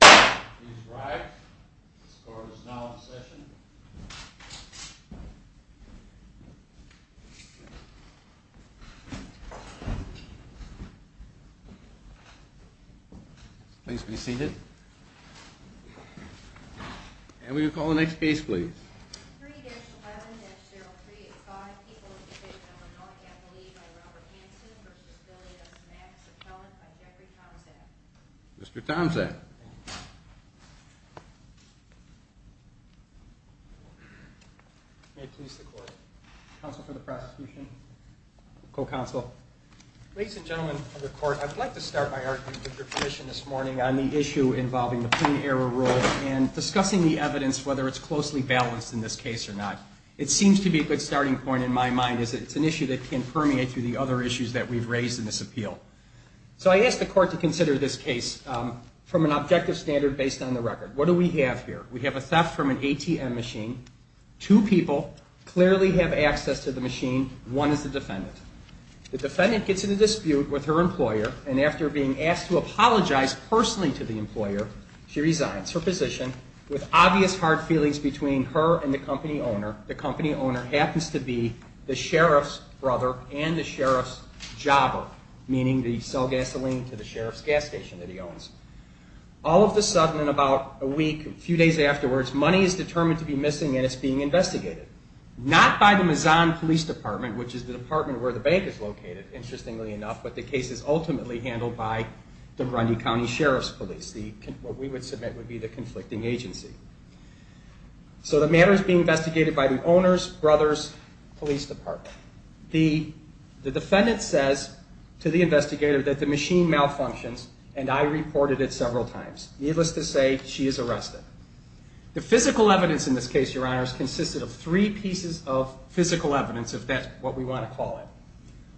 Please rise. This court is now in session. Please be seated. And we will call the next case, please. 3-11-0385, Equal Education of a Non-Catholic by Robert Hanson v. Billy v. Max, Appellant by Jeffrey Tomczak. Mr. Tomczak. May it please the court. Counsel for the prosecution. Co-counsel. Ladies and gentlemen of the court, I'd like to start my argument with your position this morning on the issue involving the plain error rule and discussing the evidence, whether it's closely balanced in this case or not. It seems to be a good starting point in my mind is that it's an issue that can permeate through the other issues that we've raised in this appeal. So I asked the court to consider this case from an objective standard based on the record. What do we have here? We have a theft from an ATM machine. Two people clearly have access to the machine. One is the defendant. The defendant gets in a dispute with her employer, and after being asked to apologize personally to the employer, she resigns her position with obvious hard feelings between her and the company owner. The company owner happens to be the sheriff's brother and the sheriff's jobber, meaning they sell gasoline to the sheriff's gas station that he owns. All of a sudden in about a week, a few days afterwards, money is determined to be missing and it's being investigated. Not by the Mazan Police Department, which is the department where the bank is located, interestingly enough, but the case is ultimately handled by the Grundy County Sheriff's Police, what we would submit would be the conflicting agency. So the matter is being investigated by the owner's brother's police department. The defendant says to the investigator that the machine malfunctions, and I reported it several times. Needless to say, she is arrested. The physical evidence in this case, Your Honors, consisted of three pieces of physical evidence, if that's what we want to call it.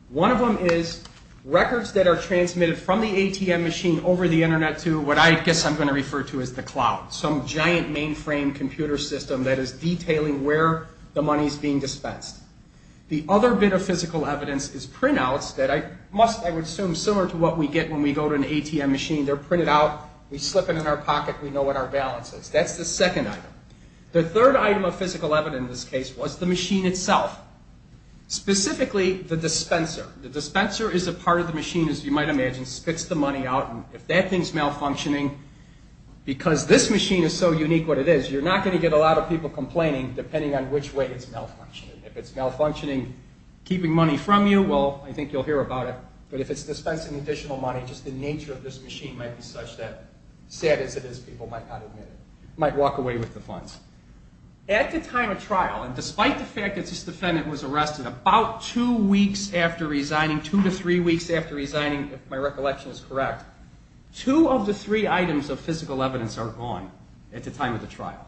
One of them is records that are transmitted from the ATM machine over the Internet to what I guess I'm going to refer to as the cloud, some giant mainframe computer system that is detailing where the money is being dispensed. The other bit of physical evidence is printouts that I must, I would assume, similar to what we get when we go to an ATM machine. They're printed out, we slip it in our pocket, we know what our balance is. That's the second item. The third item of physical evidence in this case was the machine itself, specifically the dispenser. The dispenser is a part of the machine, as you might imagine, spits the money out. If that thing's malfunctioning, because this machine is so unique what it is, you're not going to get a lot of people complaining, depending on which way it's malfunctioning. If it's malfunctioning, keeping money from you, well, I think you'll hear about it, but if it's dispensing additional money, just the nature of this machine might be such that, sad as it is, people might not admit it, might walk away with the funds. At the time of trial, and despite the fact that this defendant was arrested, about two weeks after resigning, two to three weeks after resigning, if my recollection is correct, two of the three items of physical evidence are gone at the time of the trial.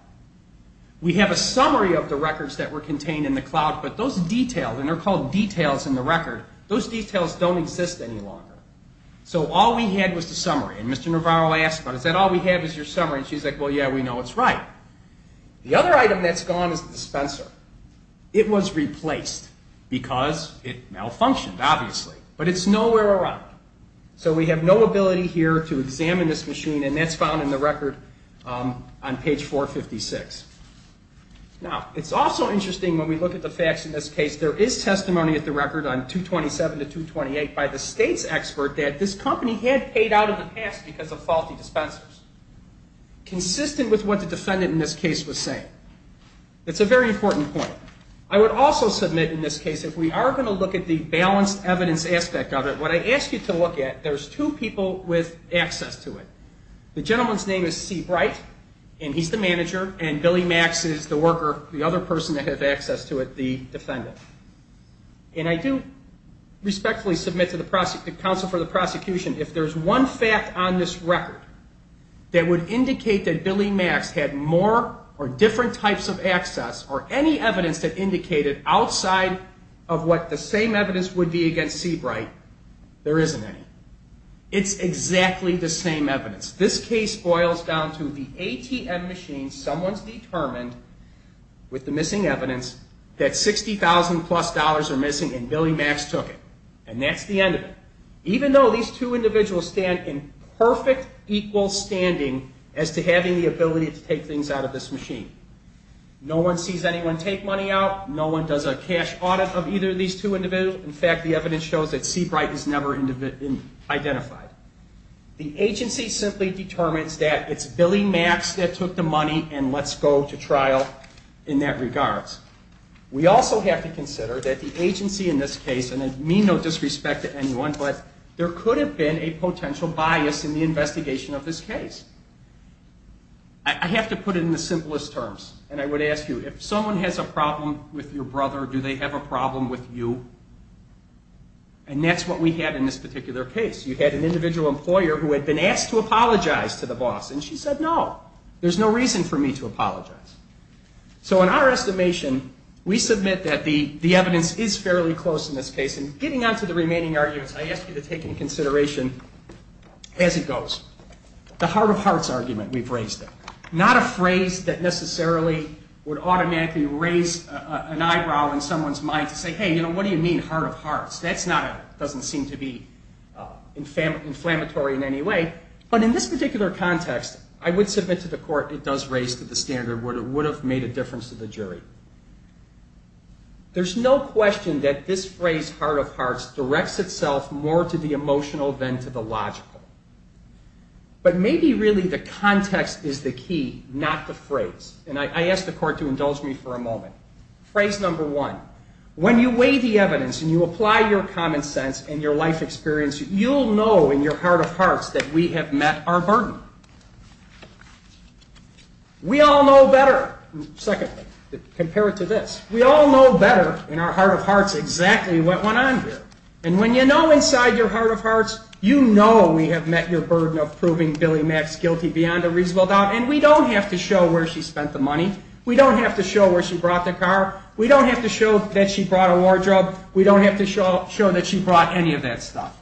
We have a summary of the records that were contained in the cloud, but those details, and they're called details in the record, those details don't exist any longer. So all we had was the summary. And Mr. Navarro asked, but is that all we have is your summary? And she's like, well, yeah, we know it's right. The other item that's gone is the dispenser. It was replaced because it malfunctioned, obviously. But it's nowhere around. So we have no ability here to examine this machine, and that's found in the record on page 456. Now, it's also interesting when we look at the facts in this case, there is testimony at the record on 227 to 228 by the state's expert that this company had paid out in the past because of faulty dispensers, consistent with what the defendant in this case was saying. That's a very important point. I would also submit in this case, if we are going to look at the balanced evidence aspect of it, what I ask you to look at, there's two people with access to it. The gentleman's name is C. Bright, and he's the manager, and Billy Max is the worker, the other person that has access to it, the defendant. And I do respectfully submit to the counsel for the prosecution, if there's one fact on this record that would indicate that Billy Max had more or different types of access or any evidence that indicated outside of what the same evidence would be against C. Bright, there isn't any. It's exactly the same evidence. This case boils down to the ATM machine. Someone's determined, with the missing evidence, that $60,000-plus are missing, and Billy Max took it. And that's the end of it. Even though these two individuals stand in perfect equal standing as to having the ability to take things out of this machine. No one sees anyone take money out. No one does a cash audit of either of these two individuals. In fact, the evidence shows that C. Bright is never identified. The agency simply determines that it's Billy Max that took the money and lets go to trial in that regards. We also have to consider that the agency in this case, and I mean no disrespect to anyone, but there could have been a potential bias in the investigation of this case. I have to put it in the simplest terms, and I would ask you, if someone has a problem with your brother, do they have a problem with you? And that's what we had in this particular case. You had an individual employer who had been asked to apologize to the boss, and she said no. There's no reason for me to apologize. So in our estimation, we submit that the evidence is fairly close in this case. And getting on to the remaining arguments, I ask you to take into consideration, as it goes, the heart of hearts argument we've raised there. Not a phrase that necessarily would automatically raise an eyebrow in someone's mind to say, hey, you know, what do you mean heart of hearts? That doesn't seem to be inflammatory in any way. But in this particular context, I would submit to the court it does raise to the standard where it would have made a difference to the jury. There's no question that this phrase, heart of hearts, directs itself more to the emotional than to the logical. But maybe really the context is the key, not the phrase. And I ask the court to indulge me for a moment. Phrase number one, when you weigh the evidence and you apply your common sense and your life experience, you'll know in your heart of hearts that we have met our burden. We all know better. Second, compare it to this. We all know better in our heart of hearts exactly what went on here. And when you know inside your heart of hearts, you know we have met your burden of proving Billy Mac's guilty beyond a reasonable doubt, and we don't have to show where she spent the money. We don't have to show where she brought the car. We don't have to show that she brought a wardrobe. We don't have to show that she brought any of that stuff.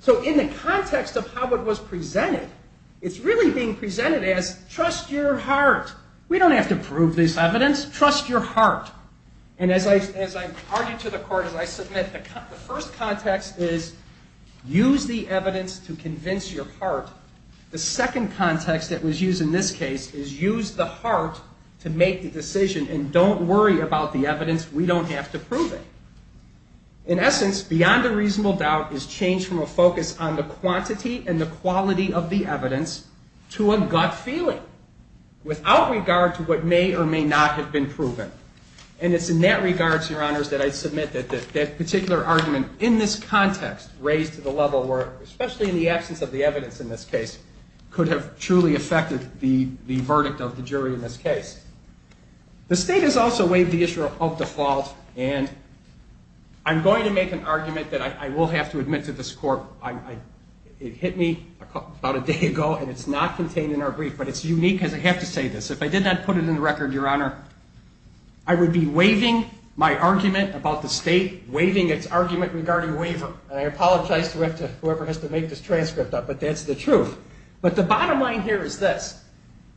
So in the context of how it was presented, it's really being presented as trust your heart. We don't have to prove this evidence. Trust your heart. And as I argue to the court, as I submit, the first context is use the evidence to convince your heart. The second context that was used in this case is use the heart to make the decision and don't worry about the evidence. We don't have to prove it. In essence, beyond a reasonable doubt is change from a focus on the quantity and the quality of the evidence to a gut feeling without regard to what may or may not have been proven. And it's in that regard, Your Honors, that I submit that that particular argument in this context raised to the level where, especially in the absence of the evidence in this case, could have truly affected the verdict of the jury in this case. The state has also waived the issue of default, and I'm going to make an argument that I will have to admit to this court. It hit me about a day ago, and it's not contained in our brief, but it's unique because I have to say this. If I did not put it in the record, Your Honor, I would be waiving my argument about the state, waiving its argument regarding waiver. And I apologize to whoever has to make this transcript up, but that's the truth. But the bottom line here is this.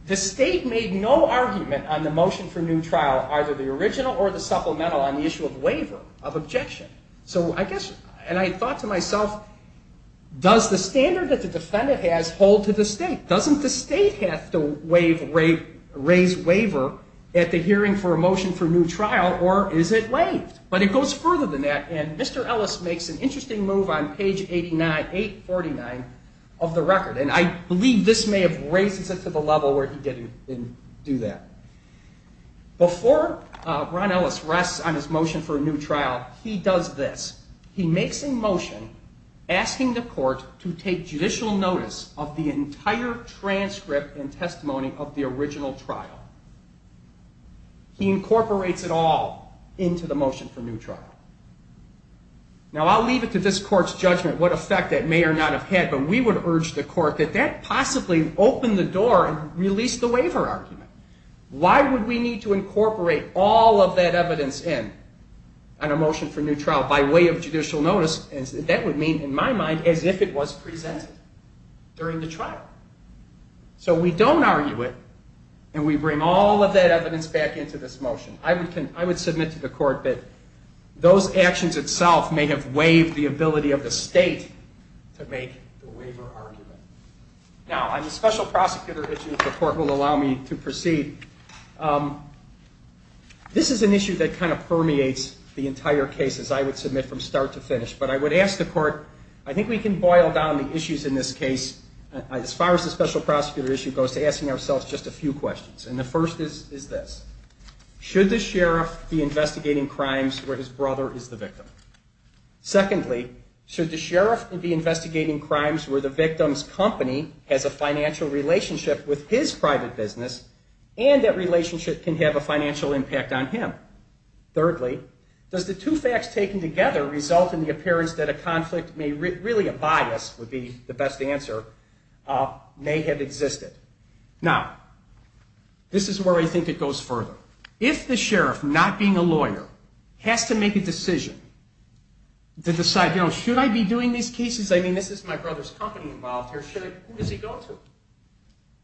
The state made no argument on the motion for new trial, either the original or the supplemental, on the issue of waiver of objection. And I thought to myself, does the standard that the defendant has hold to the state? Doesn't the state have to raise waiver at the hearing for a motion for new trial, or is it waived? But it goes further than that, and Mr. Ellis makes an interesting move on page 849 of the record. And I believe this may have raised it to the level where he didn't do that. Before Ron Ellis rests on his motion for a new trial, he does this. He makes a motion asking the court to take judicial notice of the entire transcript and testimony of the original trial. He incorporates it all into the motion for new trial. Now, I'll leave it to this court's judgment what effect that may or not have had, but we would urge the court that that possibly opened the door and released the waiver argument. Why would we need to incorporate all of that evidence in on a motion for new trial by way of judicial notice? That would mean, in my mind, as if it was presented during the trial. So we don't argue it, and we bring all of that evidence back into this motion. I would submit to the court that those actions itself may have waived the ability of the state to make the waiver argument. Now, on the special prosecutor issue, if the court will allow me to proceed, this is an issue that kind of permeates the entire case, as I would submit, from start to finish. But I would ask the court, I think we can boil down the issues in this case, as far as the special prosecutor issue goes, to asking ourselves just a few questions. And the first is this. Should the sheriff be investigating crimes where his brother is the victim? Secondly, should the sheriff be investigating crimes where the victim's company has a financial relationship with his private business and that relationship can have a financial impact on him? Thirdly, does the two facts taken together result in the appearance that a conflict, really a bias would be the best answer, may have existed? Now, this is where I think it goes further. If the sheriff, not being a lawyer, has to make a decision to decide, you know, should I be doing these cases? I mean, this is my brother's company involved here. Who does he go to?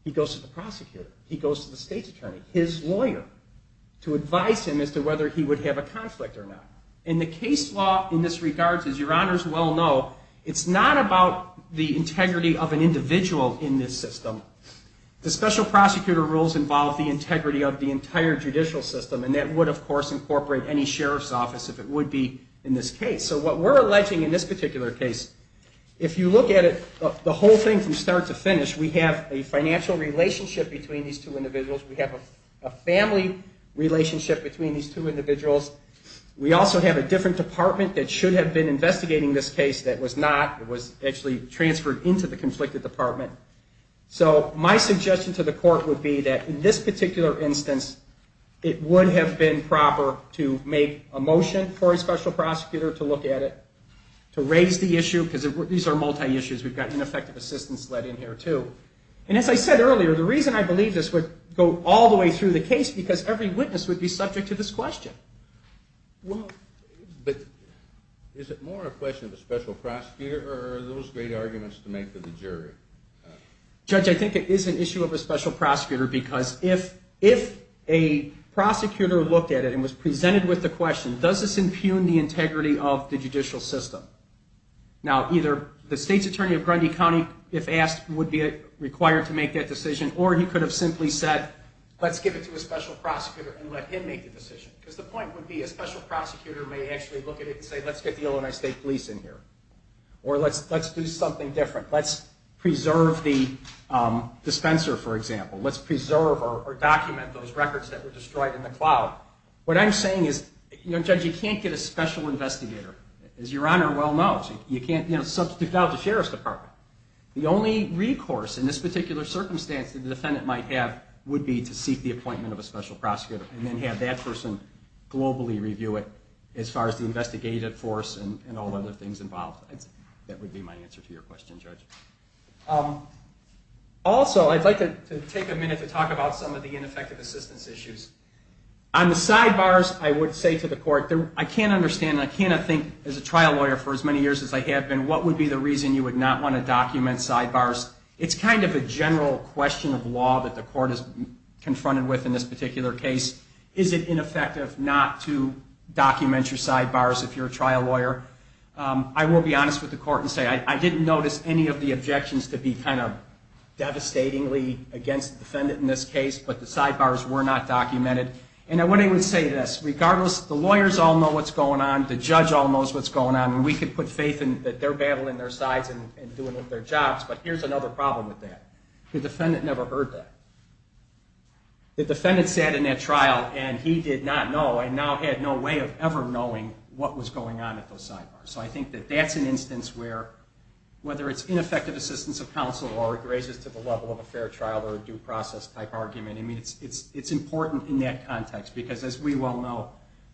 He goes to the prosecutor. He goes to the state's attorney. He goes to his lawyer to advise him as to whether he would have a conflict or not. And the case law in this regards, as your honors well know, it's not about the integrity of an individual in this system. The special prosecutor rules involve the integrity of the entire judicial system, and that would, of course, incorporate any sheriff's office if it would be in this case. So what we're alleging in this particular case, if you look at it, the whole thing from start to finish, we have a financial relationship between these two individuals. We have a family relationship between these two individuals. We also have a different department that should have been investigating this case that was not. It was actually transferred into the conflicted department. So my suggestion to the court would be that in this particular instance, it would have been proper to make a motion for a special prosecutor to look at it, to raise the issue, because these are multi-issues. We've got ineffective assistance led in here, too. And as I said earlier, the reason I believe this would go all the way through the case because every witness would be subject to this question. But is it more a question of a special prosecutor or are those great arguments to make to the jury? Judge, I think it is an issue of a special prosecutor because if a prosecutor looked at it and was presented with the question, does this impugn the integrity of the judicial system? Now, either the state's attorney of Grundy County, if asked, would be required to make that decision, or he could have simply said, let's give it to a special prosecutor and let him make the decision. Because the point would be a special prosecutor may actually look at it and say, let's get the Illinois State Police in here, or let's do something different. Let's preserve the dispenser, for example. Let's preserve or document those records that were destroyed in the cloud. What I'm saying is, Judge, you can't get a special investigator. As Your Honor well knows, you can't substitute out the Sheriff's Department. The only recourse in this particular circumstance that the defendant might have would be to seek the appointment of a special prosecutor and then have that person globally review it as far as the investigative force and all other things involved. That would be my answer to your question, Judge. Also, I'd like to take a minute to talk about some of the ineffective assistance issues. On the sidebars, I would say to the court, I can't understand, and I cannot think as a trial lawyer for as many years as I have been, what would be the reason you would not want to document sidebars? It's kind of a general question of law that the court is confronted with in this particular case. Is it ineffective not to document your sidebars if you're a trial lawyer? I will be honest with the court and say I didn't notice any of the objections to be kind of devastatingly against the defendant in this case, but the sidebars were not documented. And I wouldn't even say this. Regardless, the lawyers all know what's going on, the judge all knows what's going on, and we can put faith that they're battling their sides and doing their jobs, but here's another problem with that. The defendant never heard that. The defendant sat in that trial and he did not know and now had no way of ever knowing what was going on at those sidebars. So I think that that's an instance where, whether it's ineffective assistance of counsel or it raises to the level of a fair trial or a due process type argument, it's important in that context because, as we well know,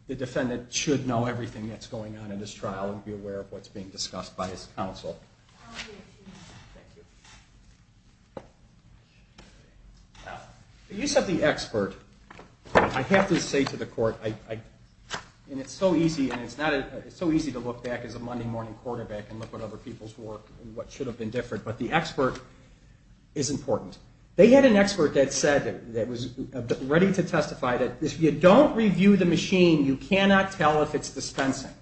the defendant should know everything that's going on in this trial and be aware of what's being discussed by his counsel. The use of the expert, I have to say to the court, and it's so easy to look back as a Monday morning quarterback and look at other people's work and what should have been different, but the expert is important. They had an expert that said, that was ready to testify, that if you don't review the machine, you cannot tell if it's dispensing.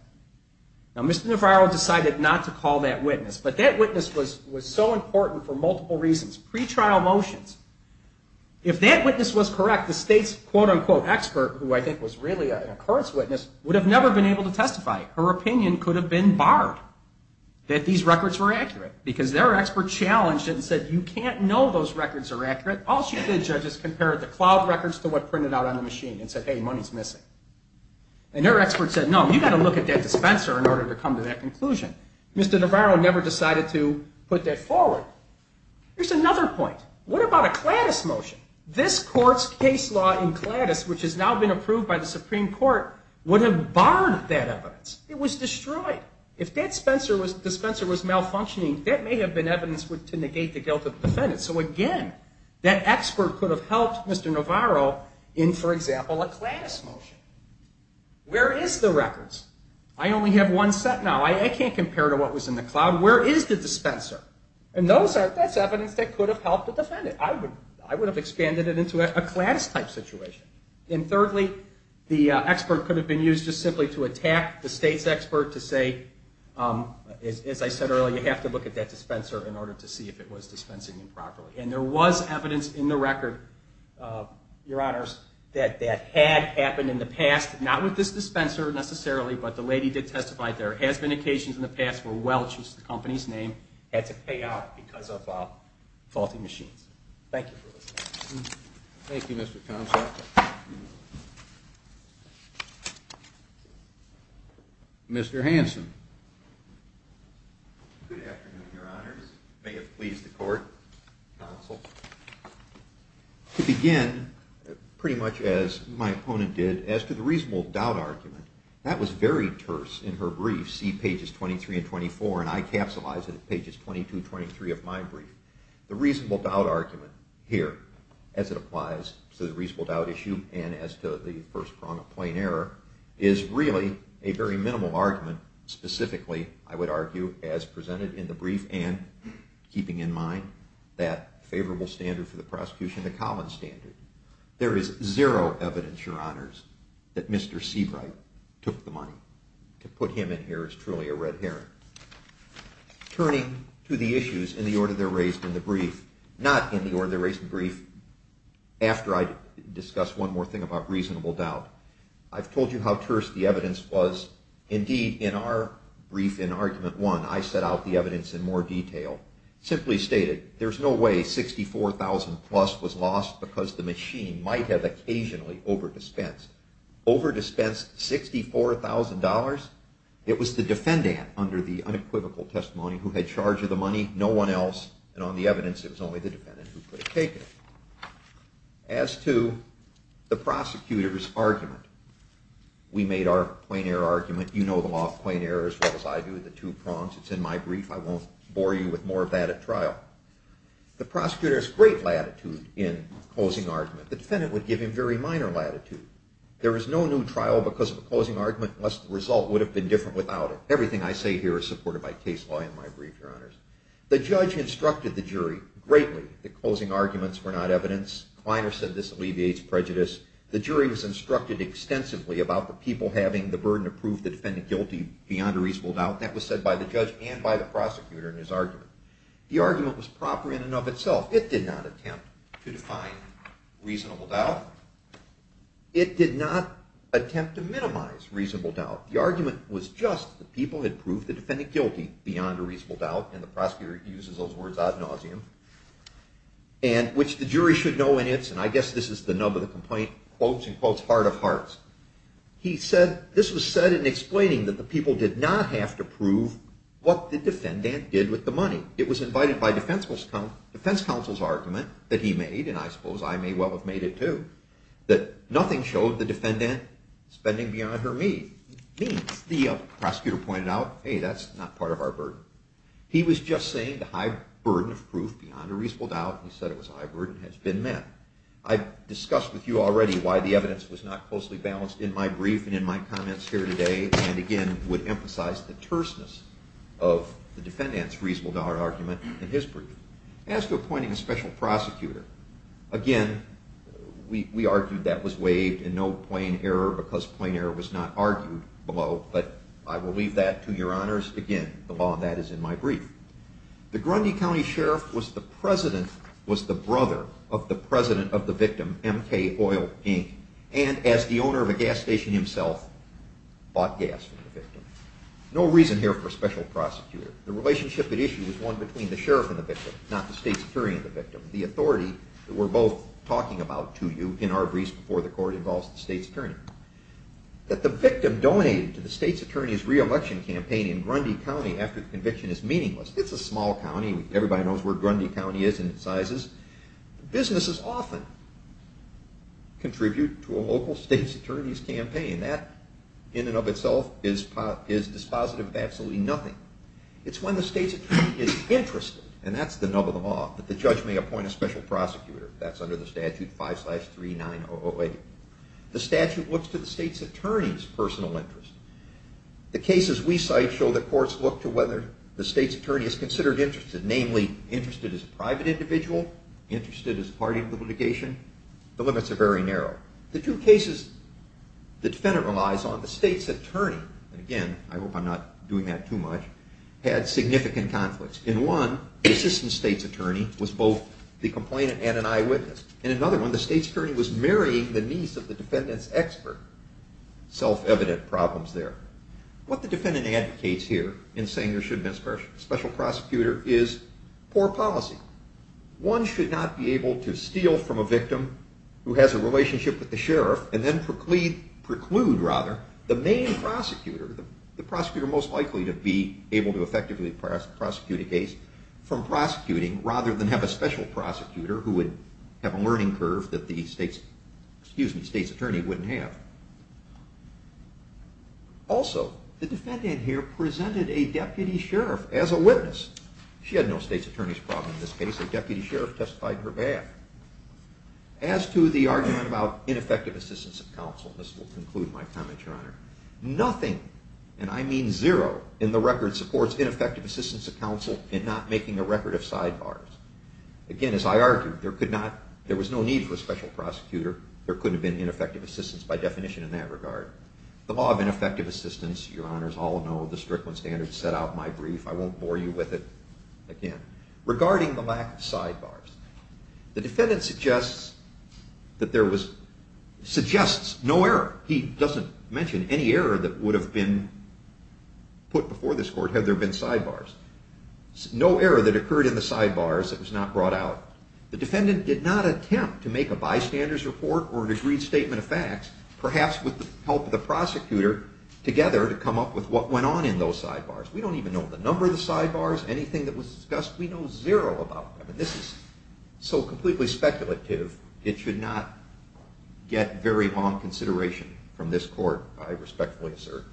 Now, Mr. Navarro decided not to call that witness, but that witness was so important for multiple reasons. Pre-trial motions. If that witness was correct, the state's quote-unquote expert, who I think was really an occurrence witness, would have never been able to testify. Her opinion could have been barred that these records were accurate because their expert challenged it and said, you can't know those records are accurate. All she did, judges, compared the cloud records to what printed out on the machine and said, hey, money's missing. And her expert said, no, you've got to look at that dispenser in order to come to that conclusion. Mr. Navarro never decided to put that forward. Here's another point. What about a Cladis motion? This court's case law in Cladis, which has now been approved by the Supreme Court, would have barred that evidence. It was destroyed. If that dispenser was malfunctioning, that may have been evidence to negate the guilt of the defendant. So, again, that expert could have helped Mr. Navarro in, for example, a Cladis motion. Where is the records? I only have one set now. I can't compare to what was in the cloud. Where is the dispenser? And that's evidence that could have helped the defendant. I would have expanded it into a Cladis-type situation. And thirdly, the expert could have been used just simply to attack the state's expert to say, as I said earlier, you have to look at that dispenser in order to see if it was dispensing improperly. And there was evidence in the record, Your Honors, that that had happened in the past, not with this dispenser necessarily, but the lady did testify there has been occasions in the past where Welch, who's the company's name, had to pay out because of faulty machines. Thank you for listening. Thank you, Mr. Consoff. Mr. Hanson. Good afternoon, Your Honors. May it please the court, counsel. To begin, pretty much as my opponent did, as to the reasonable doubt argument, that was very terse in her brief, see pages 23 and 24, and I capsulize it at pages 22 and 23 of my brief. The reasonable doubt argument here, as it applies to the reasonable doubt issue and as to the first prong of plain error, is really a very minimal argument. Specifically, I would argue, as presented in the brief, and keeping in mind that favorable standard for the prosecution, the Collins standard, there is zero evidence, Your Honors, that Mr. Seabright took the money. To put him in here is truly a red herring. Turning to the issues in the order they're raised in the brief, not in the order they're raised in the brief, after I discuss one more thing about reasonable doubt, I've told you how terse the evidence was. Indeed, in our brief in argument one, I set out the evidence in more detail. Simply stated, there's no way $64,000-plus was lost because the machine might have occasionally over-dispensed. Over-dispensed $64,000? It was the defendant, under the unequivocal testimony, who had charge of the money, no one else. And on the evidence, it was only the defendant who could have taken it. As to the prosecutor's argument, we made our plain error argument. You know the law of plain error as well as I do, the two prongs. It's in my brief. I won't bore you with more of that at trial. The prosecutor has great latitude in closing argument. The defendant would give him very minor latitude. There is no new trial because of a closing argument unless the result would have been different without it. Everything I say here is supported by case law in my brief, Your Honors. The judge instructed the jury greatly that closing arguments were not evidence. Kleiner said this alleviates prejudice. The jury was instructed extensively about the people having the burden to prove the defendant guilty beyond a reasonable doubt. That was said by the judge and by the prosecutor in his argument. The argument was proper in and of itself. It did not attempt to define reasonable doubt. It did not attempt to minimize reasonable doubt. The argument was just that people had proved the defendant guilty beyond a reasonable doubt, and the prosecutor uses those words ad nauseum, which the jury should know in its, and I guess this is the nub of the complaint, quotes and quotes, heart of hearts. This was said in explaining that the people did not have to prove what the defendant did with the money. It was invited by defense counsel's argument that he made, and I suppose I may well have made it too, that nothing showed the defendant spending beyond her means. The prosecutor pointed out, hey, that's not part of our burden. He was just saying the high burden of proof beyond a reasonable doubt, he said it was a high burden, has been met. I've discussed with you already why the evidence was not closely balanced in my brief and in my comments here today, and again, would emphasize the terseness of the defendant's reasonable doubt argument in his brief. As to appointing a special prosecutor, again, we argued that was waived and no plain error because plain error was not argued below, but I will leave that to your honors. Again, the law of that is in my brief. The Grundy County Sheriff was the brother of the president of the victim, M.K. Oil, Inc., and as the owner of a gas station himself, bought gas from the victim. No reason here for a special prosecutor. The relationship at issue was one between the sheriff and the victim, not the state's attorney and the victim. The authority that we're both talking about to you in our briefs before the court involves the state's attorney. That the victim donated to the state's attorney's re-election campaign in Grundy County after the conviction is meaningless. It's a small county. Everybody knows where Grundy County is in its sizes. Businesses often contribute to a local state's attorney's campaign. That, in and of itself, is dispositive of absolutely nothing. It's when the state's attorney is interested, and that's the nub of the law, that the judge may appoint a special prosecutor. That's under the statute 5-3908. The statute looks to the state's attorney's personal interest. The cases we cite show that courts look to whether the state's attorney is considered interested, namely, interested as a private individual, interested as part of the litigation. The limits are very narrow. The two cases the defendant relies on, the state's attorney, and again, I hope I'm not doing that too much, had significant conflicts. In one, the assistant state's attorney was both the complainant and an eyewitness. In another one, the state's attorney was marrying the niece of the defendant's expert. Self-evident problems there. What the defendant advocates here in saying there should be a special prosecutor is poor policy. One should not be able to steal from a victim who has a relationship with the sheriff and then preclude the main prosecutor, the prosecutor most likely to be able to effectively prosecute a case, from prosecuting rather than have a special prosecutor who would have a learning curve that the state's attorney wouldn't have. Also, the defendant here presented a deputy sheriff as a witness. She had no state's attorney's problem in this case. A deputy sheriff testified in her behalf. As to the argument about ineffective assistance of counsel, this will conclude my comment, Your Honor, nothing, and I mean zero, in the record supports ineffective assistance of counsel and not making a record of sidebars. Again, as I argued, there was no need for a special prosecutor. There couldn't have been ineffective assistance by definition in that regard. The law of ineffective assistance, Your Honors all know, the Strickland standards set out my brief. I won't bore you with it again. Regarding the lack of sidebars, the defendant suggests that there was, suggests no error. He doesn't mention any error that would have been put before this court had there been sidebars. No error that occurred in the sidebars that was not brought out. The defendant did not attempt to make a bystanders report or an agreed statement of facts, perhaps with the help of the prosecutor, together to come up with what went on in those sidebars. We don't even know the number of the sidebars, anything that was discussed. We know zero about them, and this is so completely speculative, it should not get very long consideration from this court, I respectfully assert.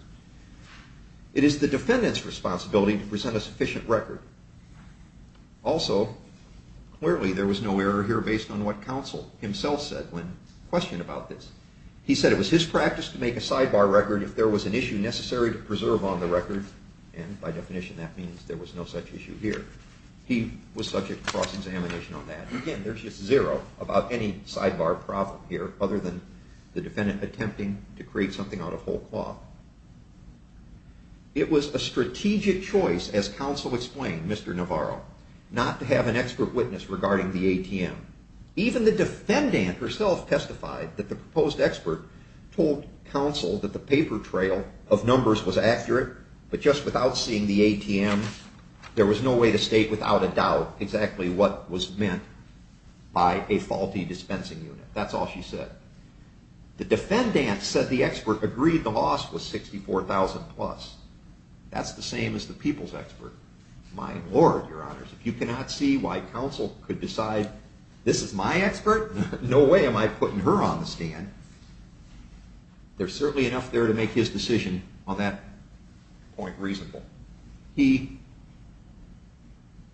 It is the defendant's responsibility to present a sufficient record. Also, clearly there was no error here based on what counsel himself said when questioned about this. He said it was his practice to make a sidebar record if there was an issue necessary to preserve on the record, and by definition that means there was no such issue here. He was subject to cross-examination on that. Again, there's just zero about any sidebar problem here other than the defendant attempting to create something out of whole cloth. It was a strategic choice, as counsel explained, Mr. Navarro, not to have an expert witness regarding the ATM. Even the defendant herself testified that the proposed expert told counsel that the paper trail of numbers was accurate, but just without seeing the ATM, there was no way to state without a doubt exactly what was meant by a faulty dispensing unit. That's all she said. The defendant said the expert agreed the loss was $64,000 plus. That's the same as the people's expert. My lord, your honors, if you cannot see why counsel could decide this is my expert, no way am I putting her on the stand. There's certainly enough there to make his decision on that point reasonable. He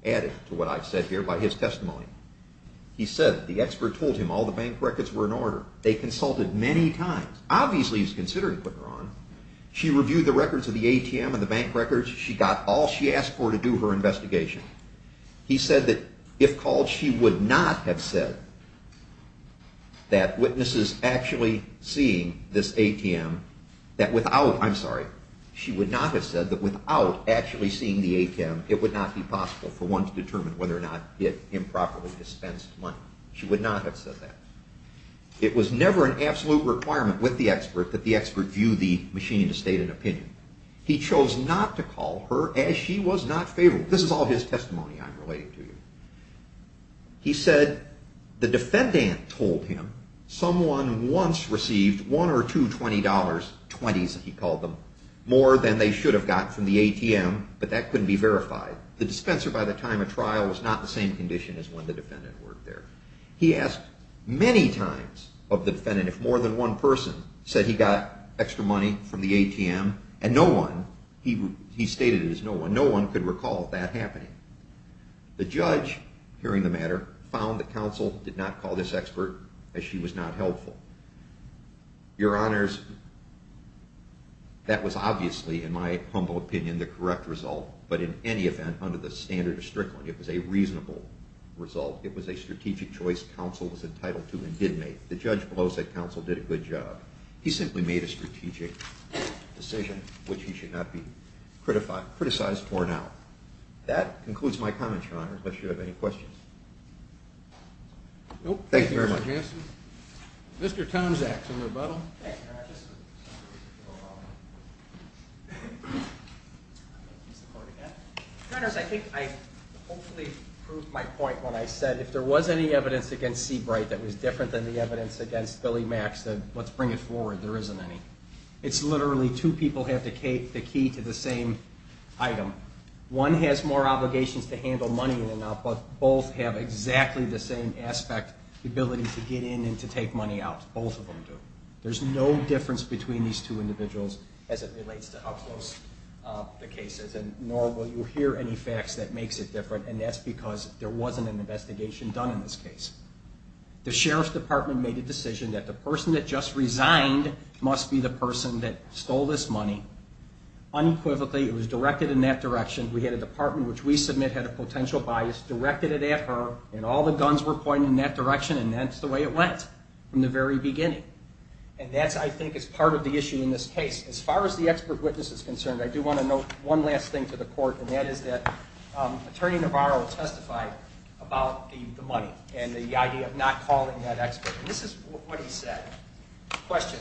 added to what I've said here by his testimony. He said the expert told him all the bank records were in order. They consulted many times. Obviously he's considering putting her on. She reviewed the records of the ATM and the bank records. She got all she asked for to do her investigation. He said that if called, she would not have said that witnesses actually seeing this ATM, that without, I'm sorry, she would not have said that without actually seeing the ATM, it would not be possible for one to determine whether or not it improperly dispensed money. She would not have said that. It was never an absolute requirement with the expert that the expert view the machine to state an opinion. He chose not to call her as she was not favorable. This is all his testimony I'm relating to you. He said the defendant told him someone once received one or two $20, 20s he called them, more than they should have gotten from the ATM, but that couldn't be verified. The dispenser by the time of trial was not in the same condition as when the defendant worked there. He asked many times of the defendant if more than one person said he got extra money from the ATM, and no one, he stated it as no one, no one could recall that happening. The judge, hearing the matter, found the counsel did not call this expert as she was not helpful. Your honors, that was obviously, in my humble opinion, the correct result, but in any event, under the standard of Strickland, it was a reasonable result. It was a strategic choice counsel was entitled to and did make. The judge below said counsel did a good job. He simply made a strategic decision which he should not be criticized for now. That concludes my comments, your honors, unless you have any questions. Thank you very much. Mr. Townsend. Mr. Townsend. Your honors, I think I hopefully proved my point when I said if there was any evidence against Seabright that was different than the evidence against Billy Mac said, let's bring it forward, there isn't any. It's literally two people have the key to the same item. One has more obligations to handle money in and out, but both have exactly the same aspect, the ability to get in and to take money out, both of them do. There's no difference between these two individuals as it relates to how close the case is, and nor will you hear any facts that makes it different, and that's because there wasn't an investigation done in this case. The sheriff's department made a decision that the person that just resigned must be the person that stole this money. Unequivocally, it was directed in that direction. We had a department which we submit had a potential bias, directed it at her, and all the guns were pointed in that direction, and that's the way it went from the very beginning. And that, I think, is part of the issue in this case. As far as the expert witness is concerned, I do want to note one last thing to the court, and that is that Attorney Navarro testified about the money and the idea of not calling that expert. This is what he said. Question,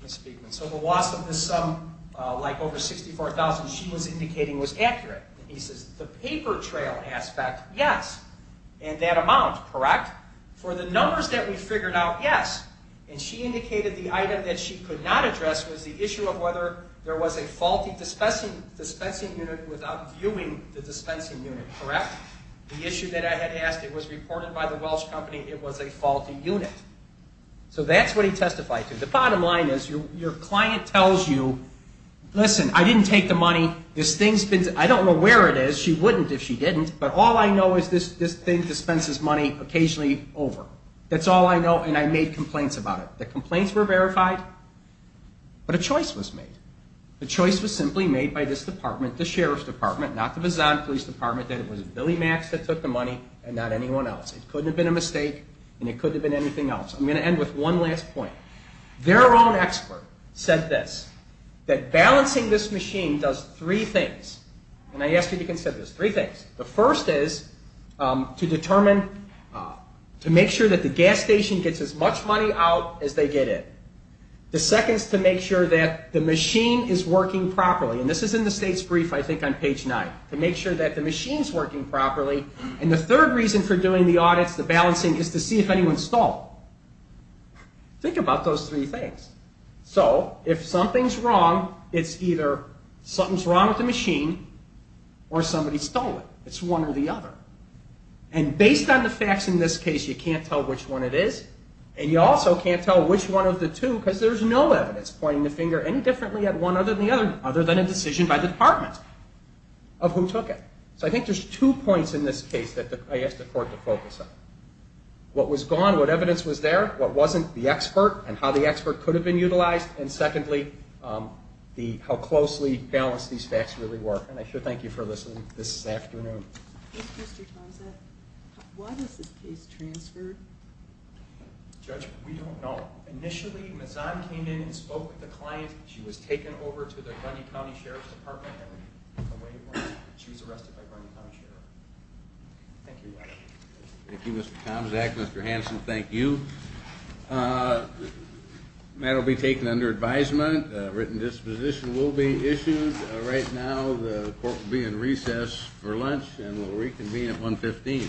Ms. Spiegman. So the loss of this sum, like over $64,000 she was indicating, was accurate. He says the paper trail aspect, yes, and that amount, correct. For the numbers that we figured out, yes. And she indicated the item that she could not address was the issue of whether there was a faulty dispensing unit without viewing the dispensing unit, correct. The issue that I had asked, it was reported by the Welsh company it was a faulty unit. So that's what he testified to. The bottom line is your client tells you, listen, I didn't take the money, this thing's been to me, I don't know where it is, she wouldn't if she didn't, but all I know is this thing dispenses money occasionally over. That's all I know, and I made complaints about it. The complaints were verified, but a choice was made. The choice was simply made by this department, the Sheriff's Department, not the Bizon Police Department, that it was Billy Max that took the money and not anyone else. It couldn't have been a mistake and it couldn't have been anything else. I'm going to end with one last point. Their own expert said this, that balancing this machine does three things, and I ask you to consider this, three things. The first is to determine, to make sure that the gas station gets as much money out as they get in. The second is to make sure that the machine is working properly, and this is in the state's brief, I think, on page 9, to make sure that the machine's working properly. And the third reason for doing the audits, the balancing, is to see if anyone stole. Think about those three things. Or somebody stole it. It's one or the other. And based on the facts in this case, you can't tell which one it is, and you also can't tell which one of the two because there's no evidence pointing the finger any differently at one other than the other, other than a decision by the department of who took it. So I think there's two points in this case that I ask the Court to focus on. What was gone, what evidence was there, what wasn't, the expert, and how the expert could have been utilized, and secondly, how closely balanced these facts really were. And I should thank you for listening this afternoon. Thank you, Mr. Tomczak. Why was this case transferred? Judge, we don't know. Initially, Mazan came in and spoke with the client. She was taken over to the Bruny County Sheriff's Department, and she's arrested by Bruny County Sheriff. Thank you. Thank you, Mr. Tomczak. Mr. Hanson, thank you. The matter will be taken under advisement. A written disposition will be issued. Right now, the Court will be in recess for lunch and will reconvene at 115.